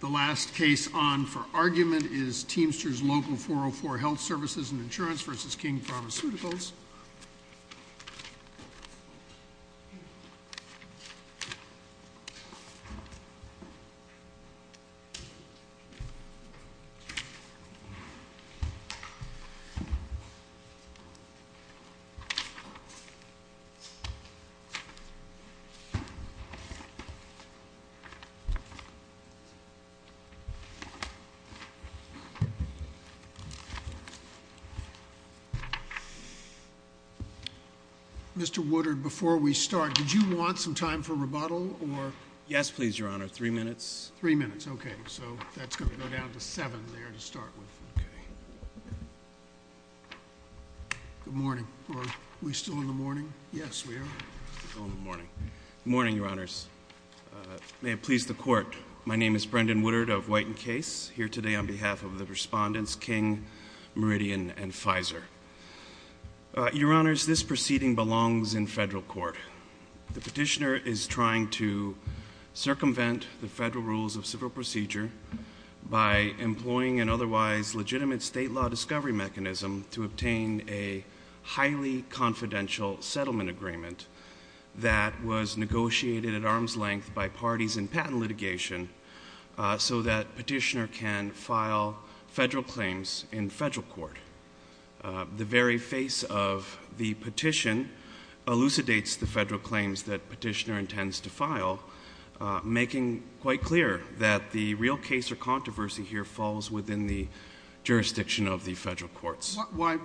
The last case on for argument is Teamsters Local 404 Health Services and Insurance versus King Pharmaceuticals. Mr. Woodard, before we start, did you want some time for rebuttal, or? Yes, please, Your Honor. Three minutes. Three minutes. Okay. So, that's going to go down to seven there to start with. Okay. Good morning. Are we still in the morning? Yes, we are. We're still in the morning. Good morning, Your Honors. May it please the Court. My name is Brendan Woodard of White and Case, here today on behalf of the respondents, King, Meridian, and Pfizer. Your Honors, this proceeding belongs in federal court. The petitioner is trying to circumvent the federal rules of civil procedure by employing an otherwise legitimate state law discovery mechanism to obtain a highly confidential settlement agreement that was negotiated at arm's length by parties in patent litigation so that petitioner can file federal claims in federal court. The very face of the petition elucidates the federal claims that petitioner intends to file, making quite clear that the real case or controversy here falls within the jurisdiction of the federal courts. Your Honor,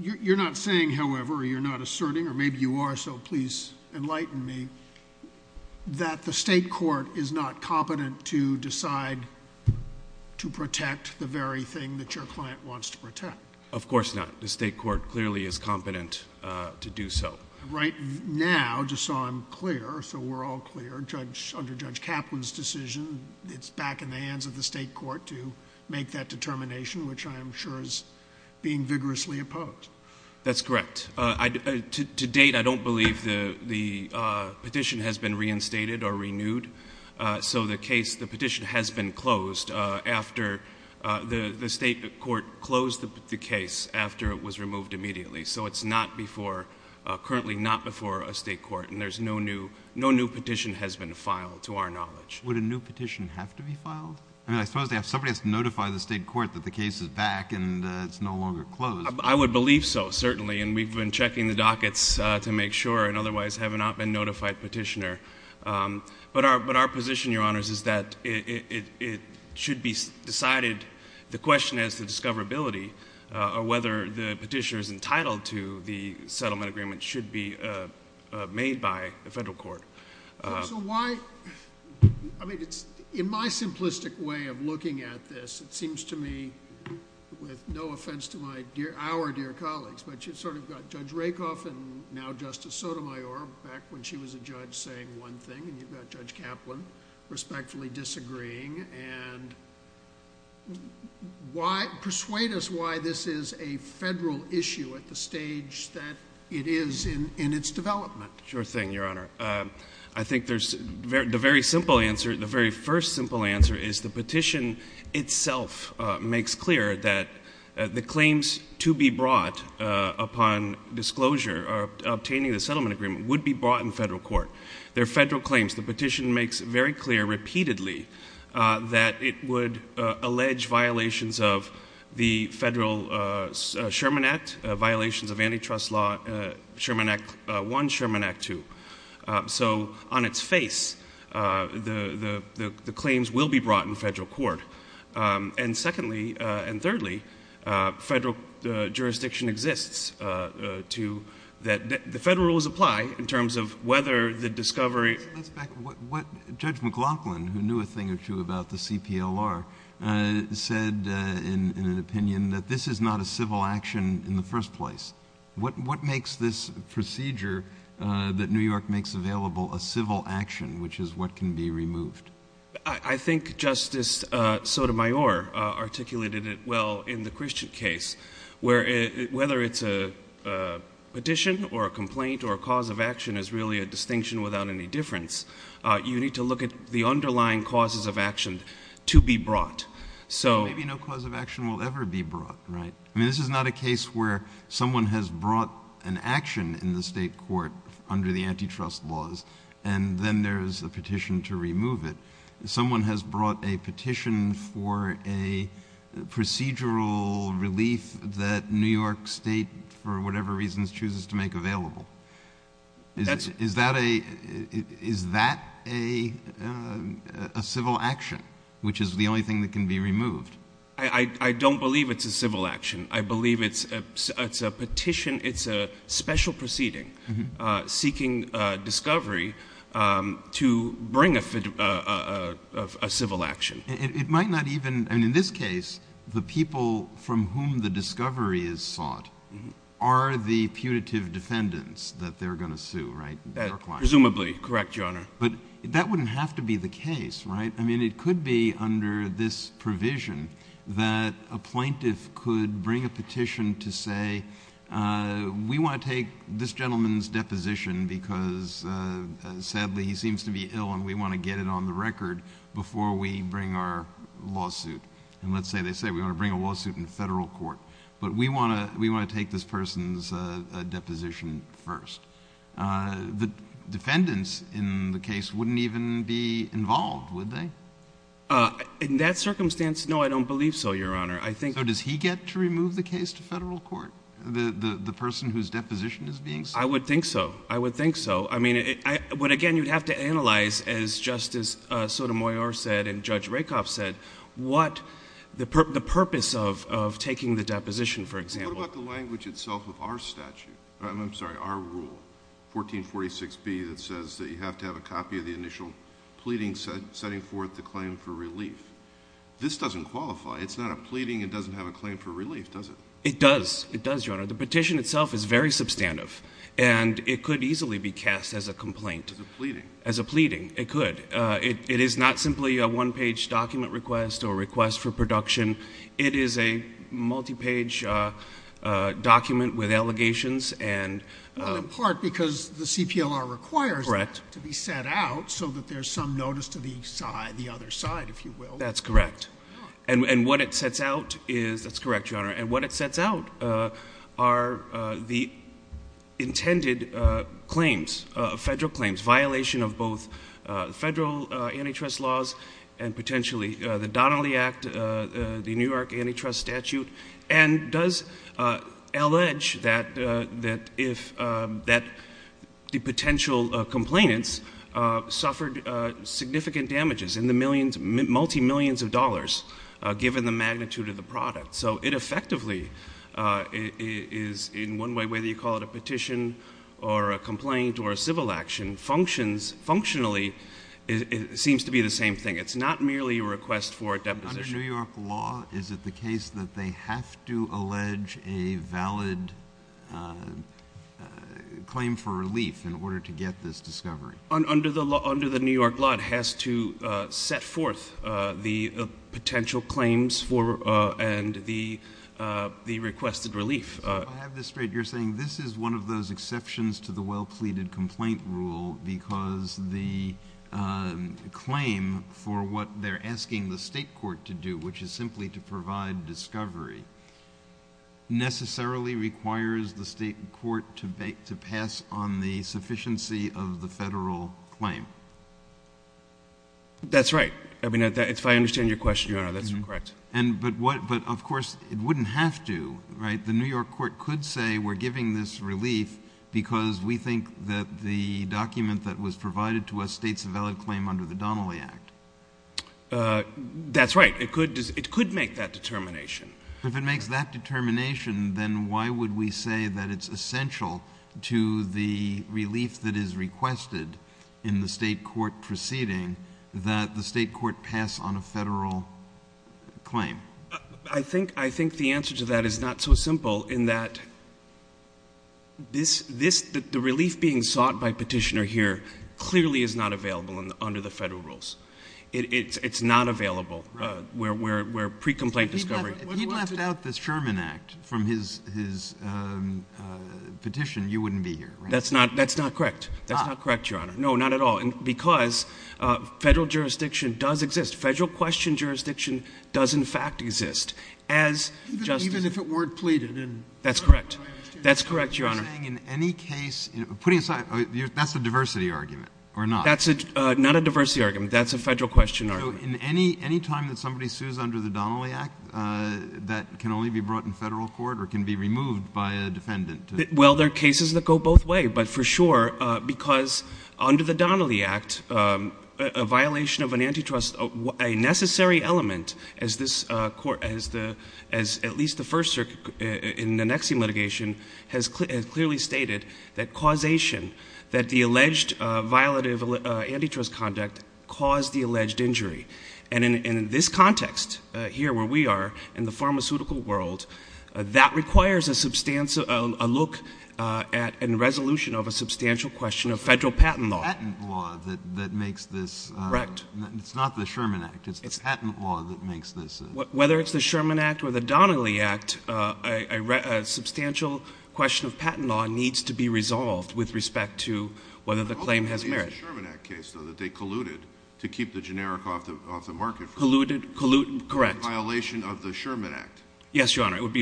you're not saying, however, or you're not asserting, or maybe you are, so please enlighten me, that the state court is not competent to decide to protect the very thing that your client wants to protect. Of course not. The state court clearly is competent to do so. Right now, just so I'm clear, so we're all clear, under Judge Kaplan's decision, it's back in the hands of the state court to make that determination, which I'm sure is being vigorously opposed. That's correct. To date, I don't believe the petition has been reinstated or renewed, so the case, the petition has been closed after the state court closed the case after it was removed immediately, so it's not before, currently not before a state court, and there's no new, no new petition has been filed, to our knowledge. Would a new petition have to be filed? I mean, I suppose they have, somebody has to notify the state court that the case is back and it's no longer closed. I would believe so, certainly, and we've been checking the dockets to make sure and otherwise have not been notified petitioner, but our position, Your Honors, is that it should be decided, the question is the discoverability, or whether the petitioner is entitled to the settlement agreement should be made by the federal court. So why, I mean, it's, in my simplistic way of looking at this, it seems to me, with no offense to my dear, our dear colleagues, but you've sort of got Judge Rakoff and now Justice Sotomayor back when she was a judge saying one thing, and you've got Judge Kaplan respectfully disagreeing, and why, persuade us why this is a federal issue at the stage that it is in, in its development. Sure thing, Your Honor. I think there's, the very simple answer, the very first simple answer is the petition itself makes clear that the claims to be brought upon disclosure, obtaining the settlement agreement, would be brought in federal court. They're federal claims. The petition makes very clear, repeatedly, that it would allege violations of the federal Sherman Act, violations of antitrust law, Sherman Act I, Sherman Act II. So on its face, the claims will be brought in federal court. And secondly, and thirdly, federal jurisdiction exists to, that the federal rules apply in terms of whether the discovery. Let's back, what Judge McLaughlin, who knew a thing or two about the CPLR, said in an interview, that it was a civil action in the first place. What makes this procedure that New York makes available a civil action, which is what can be removed? I think Justice Sotomayor articulated it well in the Christian case, where whether it's a petition or a complaint or a cause of action is really a distinction without any difference. You need to look at the underlying causes of action to be brought. So maybe no cause of action will ever be brought, right? I mean, this is not a case where someone has brought an action in the state court under the antitrust laws, and then there's a petition to remove it. Someone has brought a petition for a procedural relief that New York State, for whatever reasons, chooses to make available. Is that a civil action, which is the only thing that can be removed? I don't believe it's a civil action. I believe it's a petition, it's a special proceeding seeking discovery to bring a civil action. It might not even, I mean, in this case, the people from whom the discovery is sought are the putative defendants that they're going to sue, right? Presumably. Correct, Your Honor. But that wouldn't have to be the case, right? I mean, it could be under this provision that a plaintiff could bring a petition to say, we want to take this gentleman's deposition because sadly he seems to be ill and we want to get it on the record before we bring our lawsuit. And let's say they say, we want to bring a lawsuit in federal court. But we want to take this person's deposition first. The defendants in the case wouldn't even be involved, would they? In that circumstance, no, I don't believe so, Your Honor. I think... So does he get to remove the case to federal court, the person whose deposition is being sued? I would think so. I would think so. I mean, but again, you'd have to analyze, as Justice Sotomayor said and Judge Rakoff said, what the purpose of taking the deposition, for example. What about the language itself of our statute, I'm sorry, our rule, 1446B, that says that you have to have a copy of the initial pleading setting forth the claim for relief? This doesn't qualify. It's not a pleading. It doesn't have a claim for relief, does it? It does. It does, Your Honor. The petition itself is very substantive and it could easily be cast as a complaint. As a pleading. As a pleading. It could. It is not simply a one-page document request or request for production. It is a multi-page document with allegations and— Well, in part, because the CPLR requires that to be set out so that there's some notice to the other side, if you will. That's correct. And what it sets out is—that's correct, Your Honor—and what it sets out are the intended claims, federal claims, violation of both federal antitrust laws and potentially the New York antitrust statute, and does allege that the potential complainants suffered significant damages in the multi-millions of dollars, given the magnitude of the product. So it effectively is, in one way, whether you call it a petition or a complaint or a civil action, functions—functionally, it seems to be the same thing. It's not merely a request for a deposition. Under New York law, is it the case that they have to allege a valid claim for relief in order to get this discovery? Under the New York law, it has to set forth the potential claims for—and the requested relief. If I have this straight, you're saying this is one of those exceptions to the well-pleaded complaint rule because the claim for what they're asking the state court to do, which is simply to provide discovery, necessarily requires the state court to pass on the sufficiency of the federal claim? That's right. I mean, if I understand your question, Your Honor, that's correct. But of course, it wouldn't have to, right? The New York court could say we're giving this relief because we think that the document that was provided to us states a valid claim under the Donnelly Act. That's right. It could make that determination. If it makes that determination, then why would we say that it's essential to the relief that is requested in the state court proceeding that the state court pass on a federal claim? I think the answer to that is not so simple in that the relief being sought by Petitioner here clearly is not available under the federal rules. It's not available where pre-complaint discovery— If he left out the Sherman Act from his petition, you wouldn't be here, right? That's not correct. That's not correct, Your Honor. No, not at all. And because federal jurisdiction does exist. Federal question jurisdiction does, in fact, exist. As just— Even if it weren't pleaded? That's correct. That's correct, Your Honor. You're saying in any case—putting aside—that's a diversity argument, or not? That's not a diversity argument. That's a federal question argument. Any time that somebody sues under the Donnelly Act, that can only be brought in federal court or can be removed by a defendant? Well, there are cases that go both ways, but for sure, because under the Donnelly Act, a violation of an antitrust—a necessary element, as this court—as at least the first circuit in the NXIVM litigation has clearly stated, that causation—that the alleged violative antitrust conduct caused the alleged injury. And in this context, here where we are, in the pharmaceutical world, that requires a substantial—a look at and resolution of a substantial question of federal patent law. It's the patent law that makes this— Correct. It's not the Sherman Act. It's the patent law that makes this— Whether it's the Sherman Act or the Donnelly Act, a substantial question of patent law needs to be resolved with respect to whether the claim has merit. The Sherman Act case, though, that they colluded to keep the generic off the market for a violation of the Sherman Act. Yes, Your Honor. with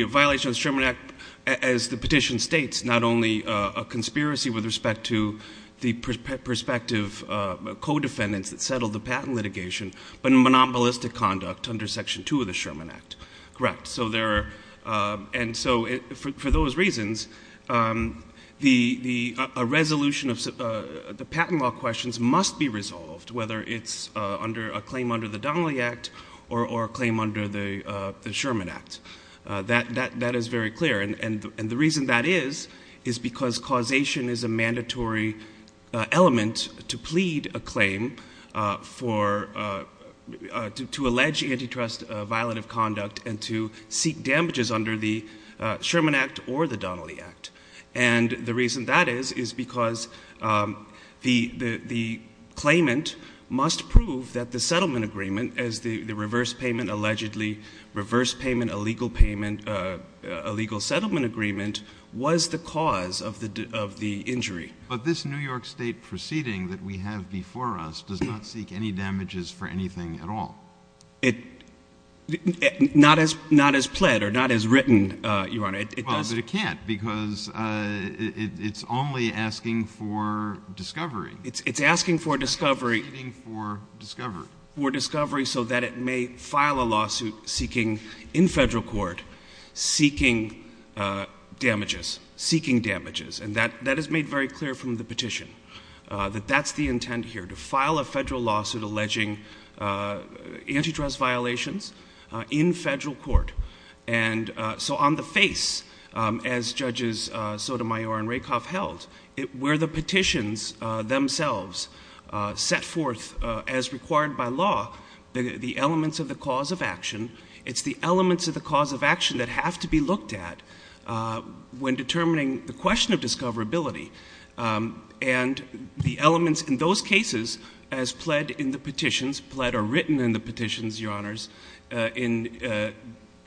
respect to the prospective co-defendants that settled the patent litigation, but monopolistic conduct under Section 2 of the Sherman Act. Correct. So there are—and so for those reasons, a resolution of the patent law questions must be resolved, whether it's a claim under the Donnelly Act or a claim under the Sherman Act. That is very clear. And the reason that is, is because causation is a mandatory element to plead a claim for—to allege antitrust violent of conduct and to seek damages under the Sherman Act or the Donnelly Act. And the reason that is, is because the claimant must prove that the settlement agreement, as the reverse payment allegedly—reverse payment, a legal payment, a legal settlement agreement—was the cause of the injury. But this New York State proceeding that we have before us does not seek any damages for anything at all. Not as pled or not as written, Your Honor. Well, but it can't, because it's only asking for discovery. It's asking for discovery. It's pleading for discovery. For discovery so that it may file a lawsuit seeking, in federal court, seeking damages. Seeking damages. And that is made very clear from the petition, that that's the intent here, to file a federal lawsuit alleging antitrust violations in federal court. And so on the face, as Judges Sotomayor and Rakoff held, where the petitions themselves set forth, as required by law, the elements of the cause of action, it's the elements of the cause of action that have to be looked at when determining the question of discoverability. And the elements in those cases, as pled in the petitions—pled or written in the petitions, Your Honors, in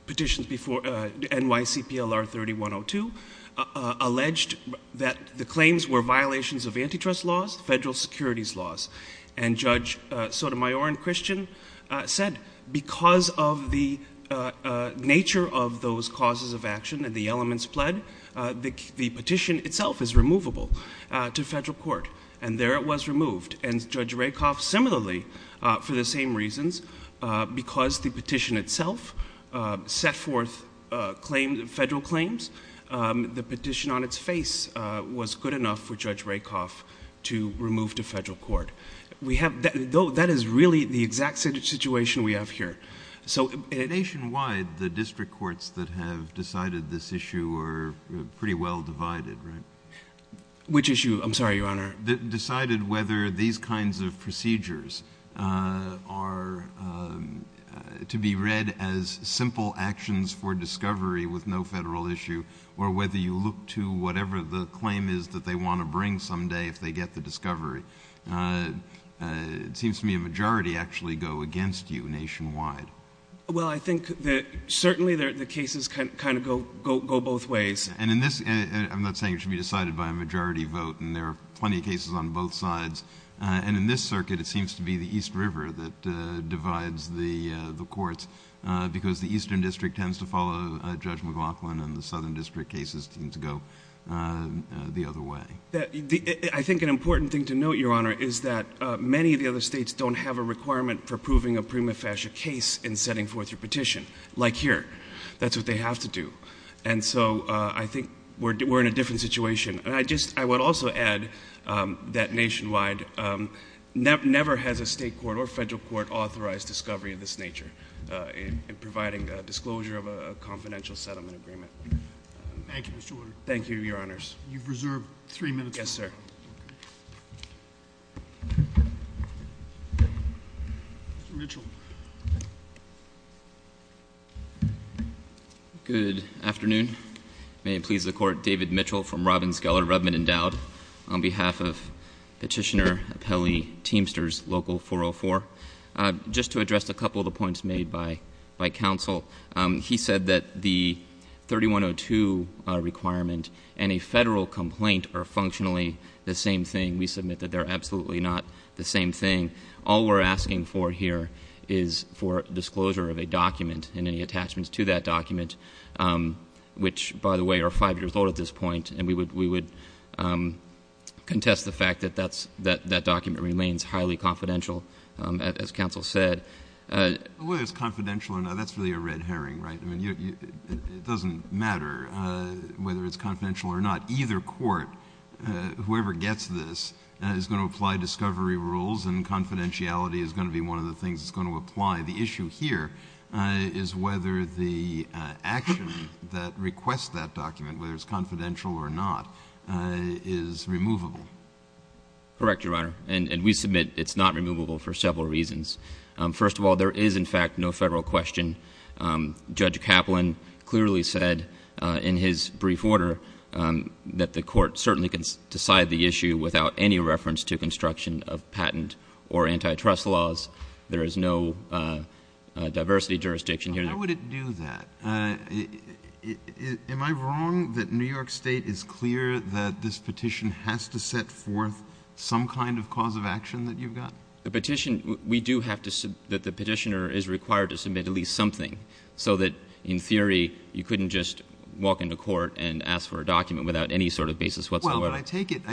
petitions before NYCPLR 3102—alleged that the claims were violations of antitrust laws, federal securities laws. And Judge Sotomayor and Christian said, because of the nature of those causes of action and the elements pled, the petition itself is removable to federal court. And there it was removed. And Judge Rakoff, similarly, for the same reasons, because the petition itself set forth federal claims, the petition on its face was good enough for Judge Rakoff to remove to federal court. We have—that is really the exact situation we have here. So— Nationwide, the district courts that have decided this issue are pretty well divided, Which issue? I'm sorry, Your Honor. Decided whether these kinds of procedures are to be read as simple actions for discovery with no federal issue, or whether you look to whatever the claim is that they want to bring someday if they get the discovery, it seems to me a majority actually go against you nationwide. Well, I think that certainly the cases kind of go both ways. And in this—I'm not saying it should be decided by a majority vote, and there are many cases on both sides. And in this circuit, it seems to be the East River that divides the courts, because the Eastern District tends to follow Judge McLaughlin, and the Southern District cases seem to go the other way. I think an important thing to note, Your Honor, is that many of the other states don't have a requirement for proving a prima facie case in setting forth your petition, like here. That's what they have to do. And so I think we're in a different situation. And I just—I would also add that nationwide never has a state court or federal court authorized discovery of this nature in providing a disclosure of a confidential settlement agreement. Thank you, Mr. Woodard. Thank you, Your Honors. You've reserved three minutes. Yes, sir. Mr. Mitchell. Good afternoon. May it please the Court. David Mitchell from Robbins, Geller, Redmond, and Dowd on behalf of Petitioner Apelli Teamsters Local 404. Just to address a couple of the points made by counsel. He said that the 3102 requirement and a federal complaint are functionally the same thing. We submit that they're absolutely not the same thing. All we're asking for here is for disclosure of a document and any attachments to that which, by the way, are five years old at this point, and we would contest the fact that that document remains highly confidential, as counsel said. Whether it's confidential or not, that's really a red herring, right? It doesn't matter whether it's confidential or not. Either court, whoever gets this, is going to apply discovery rules and confidentiality is going to be one of the things that's going to apply. The issue here is whether the action that requests that document, whether it's confidential or not, is removable. Correct, Your Honor. And we submit it's not removable for several reasons. First of all, there is, in fact, no federal question. Judge Kaplan clearly said in his brief order that the court certainly can decide the issue without any reference to construction of patent or antitrust laws. There is no diversity jurisdiction here. How would it do that? Am I wrong that New York State is clear that this petition has to set forth some kind of cause of action that you've got? The petition, we do have to, that the petitioner is required to submit at least something so that, in theory, you couldn't just walk into court and ask for a document without any sort of basis whatsoever. Well, but I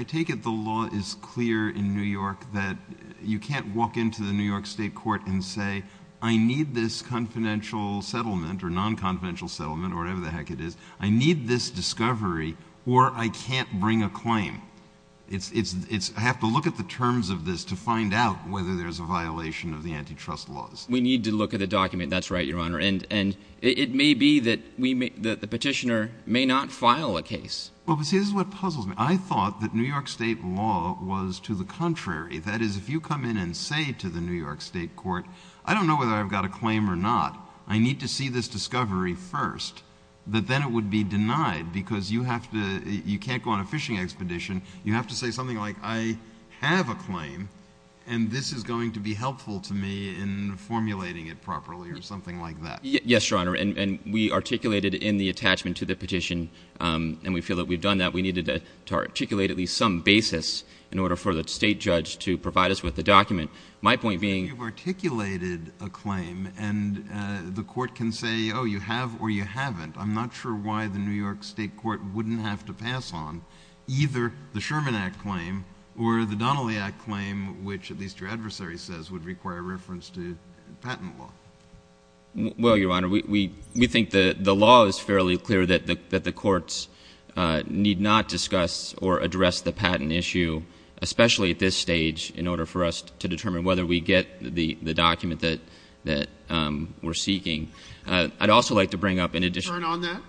take it the law is clear in New York that you can't walk into the New York State court and say, I need this confidential settlement or non-confidential settlement or whatever the heck it is, I need this discovery or I can't bring a claim. I have to look at the terms of this to find out whether there's a violation of the antitrust laws. We need to look at the document. That's right, Your Honor. And it may be that the petitioner may not file a case. Well, see, this is what puzzles me. I thought that New York State law was to the contrary. That is, if you come in and say to the New York State court, I don't know whether I've got a claim or not, I need to see this discovery first, that then it would be denied because you have to, you can't go on a fishing expedition, you have to say something like, I have a claim and this is going to be helpful to me in formulating it properly or something like that. Yes, Your Honor. And we articulated in the attachment to the petition, and we feel that we've done that, we needed to articulate at least some basis in order for the state judge to provide us with the document. My point being- You've articulated a claim and the court can say, oh, you have or you haven't. I'm not sure why the New York State court wouldn't have to pass on either the Sherman Act claim or the Donnelly Act claim, which at least your adversary says would require reference to patent law. Well, Your Honor, we think the law is fairly clear that the courts need not discuss or address the patent issue, especially at this stage, in order for us to determine whether we get the document that we're seeking. I'd also like to bring up in addition- Burn on that?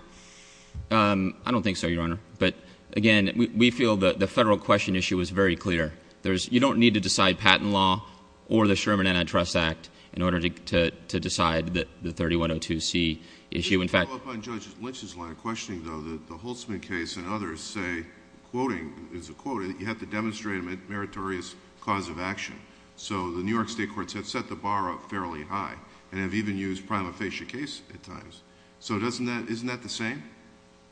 I don't think so, Your Honor. But again, we feel that the federal question issue is very clear. You don't need to decide patent law or the Sherman Antitrust Act in order to decide the 3102C issue. In fact- Let me follow up on Judge Lynch's line of questioning, though, that the Holtzman case and others say, quoting, is a quote, you have to demonstrate a meritorious cause of action. So the New York State courts have set the bar up fairly high and have even used prima facie case at times. So isn't that the same?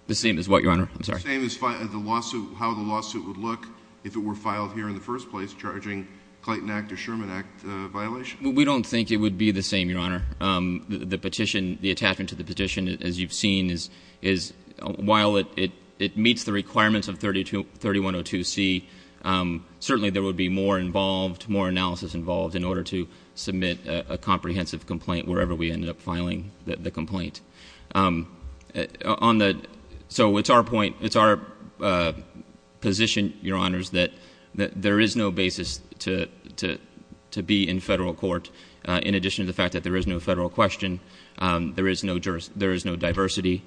The same as what, Your Honor? I'm sorry. The same as how the lawsuit would look if it were filed here in the first place, charging Clayton Act or Sherman Act violation? We don't think it would be the same, Your Honor. The petition, the attachment to the petition, as you've seen, is while it meets the requirements of 3102C, certainly there would be more involved, more analysis involved in order to submit a comprehensive complaint wherever we ended up filing the complaint. So it's our point, it's our position, Your Honors, that there is no basis to be in federal court in addition to the fact that there is no federal question, there is no diversity.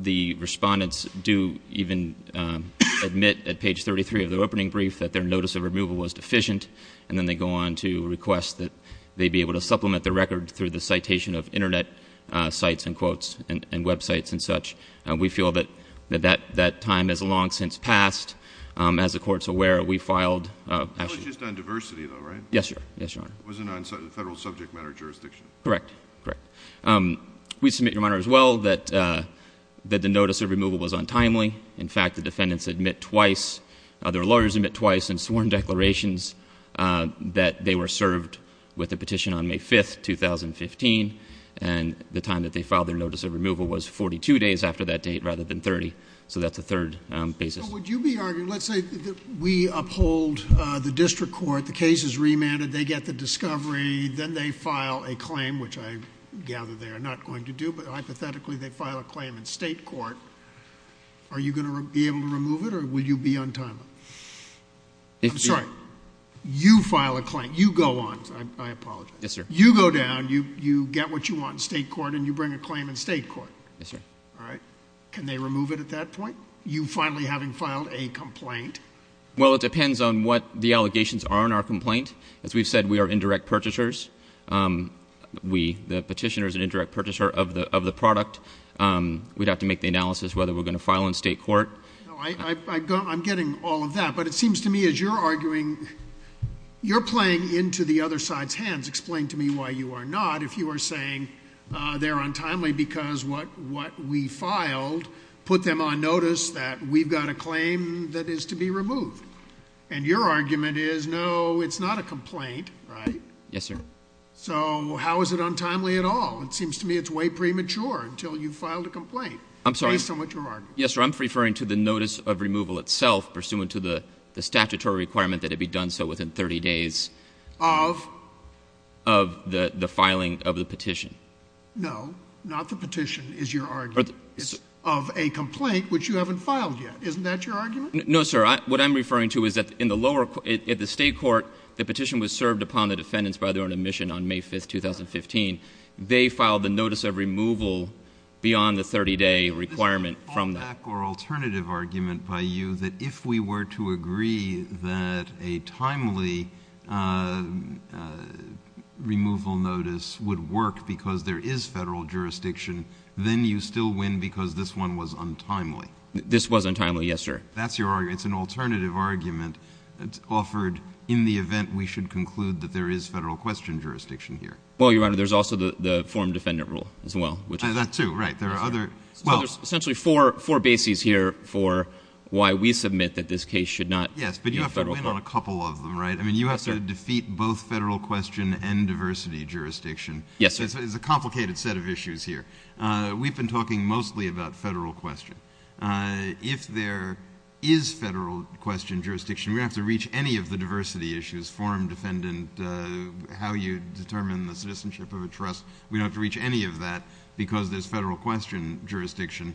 The respondents do even admit at page 33 of the opening brief that their notice of removal was deficient, and then they go on to request that they be able to supplement the record through the citation of Internet sites and quotes and websites and such. We feel that that time has long since passed. As the Court's aware, we filed — It was just on diversity, though, right? Yes, Your Honor. It wasn't on federal subject matter jurisdiction? Correct. Correct. We submit, Your Honor, as well, that the notice of removal was untimely. In fact, the defendants admit twice — their lawyers admit twice in sworn declarations that they were served with a petition on May 5th, 2015, and the time that they filed their notice of removal was 42 days after that date rather than 30. So that's a third basis. So would you be arguing — let's say we uphold the district court, the case is remanded, they get the discovery, then they file a claim, which I gather they are not going to do, but hypothetically they file a claim in state court. Are you going to be able to remove it, or will you be untimely? I'm sorry. You file a claim. You go on. I apologize. Yes, sir. You go down. You get what you want in state court, and you bring a claim in state court. Yes, sir. All right? Can they remove it at that point? You finally having filed a complaint. Well, it depends on what the allegations are in our complaint. As we've said, we are indirect purchasers. We — the petitioner is an indirect purchaser of the product. We'd have to make the analysis whether we're going to file in state court. No, I'm getting all of that, but it seems to me as you're arguing, you're playing into the other side's hands. Explain to me why you are not, if you are saying they're untimely because what we filed put them on notice that we've got a claim that is to be removed. And your argument is, no, it's not a complaint, right? Yes, sir. So how is it untimely at all? It seems to me it's way premature until you filed a complaint based on what you're arguing. Yes, sir. I'm referring to the notice of removal itself pursuant to the statutory requirement that it be done so within 30 days of the filing of the petition. No, not the petition is your argument. It's of a complaint which you haven't filed yet. Isn't that your argument? No, sir. What I'm referring to is that in the lower — at the state court, the petition was served upon the defendants by their own admission on May 5th, 2015. They filed the notice of removal beyond the 30-day requirement from them. This is a fallback or alternative argument by you that if we were to agree that a timely removal notice would work because there is federal jurisdiction, then you still win because this one was untimely. This was untimely, yes, sir. That's your argument. It's an alternative argument offered in the event we should conclude that there is federal question jurisdiction here. Well, Your Honor, there's also the forum defendant rule as well. That too, right. There are other — There's essentially four bases here for why we submit that this case should not be a federal question. Yes, but you have to win on a couple of them, right? Yes, sir. I mean, you have to defeat both federal question and diversity jurisdiction. Yes, sir. It's a complicated set of issues here. We've been talking mostly about federal question. If there is federal question jurisdiction, we don't have to reach any of the diversity issues, forum defendant, how you determine the citizenship of a trust. We don't have to reach any of that because there's federal question jurisdiction.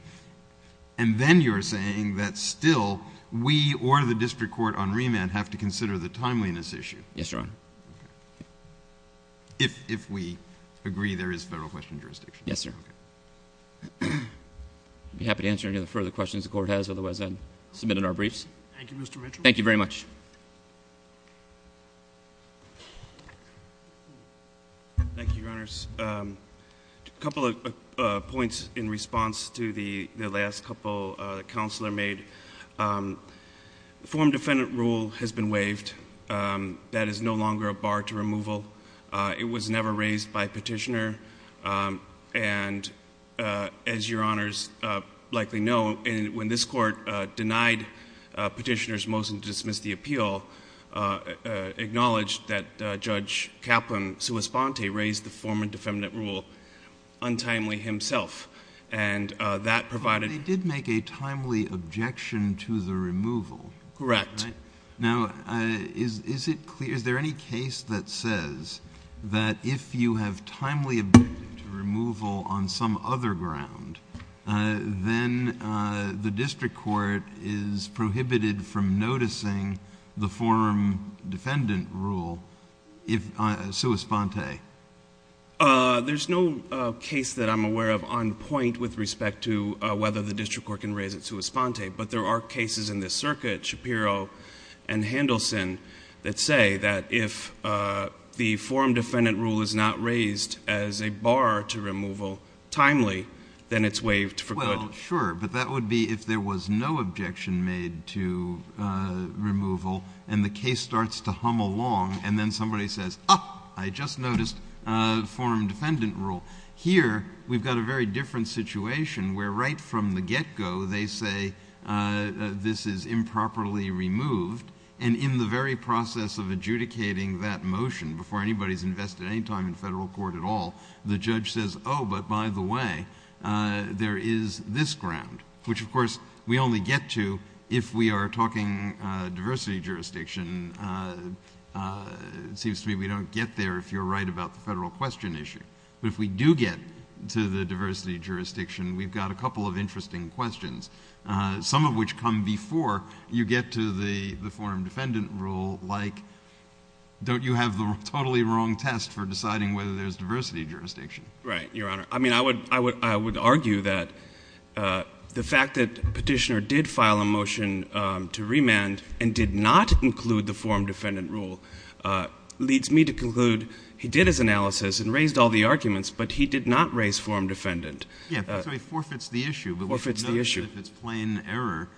And then you're saying that still, we or the district court on remand have to consider the timeliness issue. Yes, Your Honor. If we agree there is federal question jurisdiction. Yes, sir. I'd be happy to answer any of the further questions the court has, otherwise I'd submit in our briefs. Thank you, Mr. Mitchell. Thank you very much. Thank you, Your Honors. A couple of points in response to the last couple the counselor made. Form defendant rule has been waived. That is no longer a bar to removal. It was never raised by petitioner. And as Your Honors likely know, when this court denied petitioner's motion to dismiss the appeal, acknowledged that Judge Kaplan Suis Ponte raised the form and defendant rule untimely himself. And that provided... They did make a timely objection to the removal. Correct. Now, is it clear, is there any case that says that if you have timely objection to removal on some other ground, then the district court is prohibited from noticing the form defendant rule, Suis Ponte? There's no case that I'm aware of on point with respect to whether the district court can raise it Suis Ponte, but there are cases in the circuit, Shapiro and Handelson, that say that if the form defendant rule is not raised as a bar to removal timely, then it's waived for good. Well, sure. But that would be if there was no objection made to removal and the case starts to hum along and then somebody says, ah, I just noticed form defendant rule. Here we've got a very different situation where right from the get-go they say this is improperly removed and in the very process of adjudicating that motion, before anybody's invested any time in federal court at all, the judge says, oh, but by the way, there is this ground, which of course we only get to if we are talking diversity jurisdiction. It seems to me we don't get there if you're right about the federal question issue. But if we do get to the diversity jurisdiction, we've got a couple of interesting questions, some of which come before you get to the form defendant rule, like don't you have the totally wrong test for deciding whether there's diversity jurisdiction? Right, Your Honor. I mean, I would argue that the fact that Petitioner did file a motion to remand and did not include the form defendant rule leads me to conclude he did his analysis and raised all the arguments, but he did not raise form defendant. Yeah. So he forfeits the issue. But we should note that if it's plain error,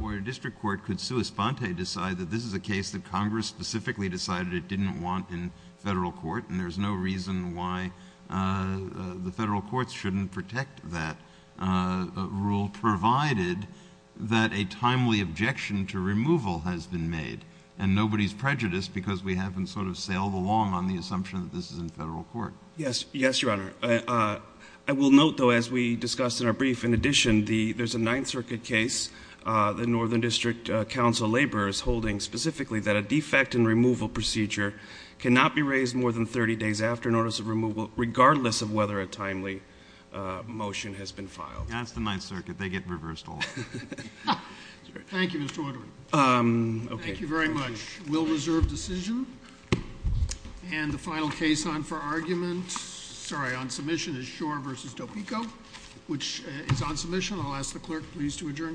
where a district court could sua sponte decide that this is a case that Congress specifically decided it didn't want in federal court, and there's no reason why the federal courts shouldn't protect that rule, provided that a timely objection to removal has been made and nobody's prejudiced because we haven't sort of sailed along on the assumption that this is in federal court. Yes. Yes, Your Honor. I will note, though, as we discussed in our brief, in addition, there's a Ninth Circuit case the Northern District Council laborers holding specifically that a defect in removal procedure cannot be raised more than 30 days after notice of removal, regardless of whether a timely motion has been filed. That's the Ninth Circuit. They get reversed all the time. Thank you, Mr. Woodward. Okay. Thank you very much. We'll reserve decision. And the final case on for argument, sorry, on submission is Schor v. Topeko, which is on submission. I'll ask the clerk, please, to adjourn court.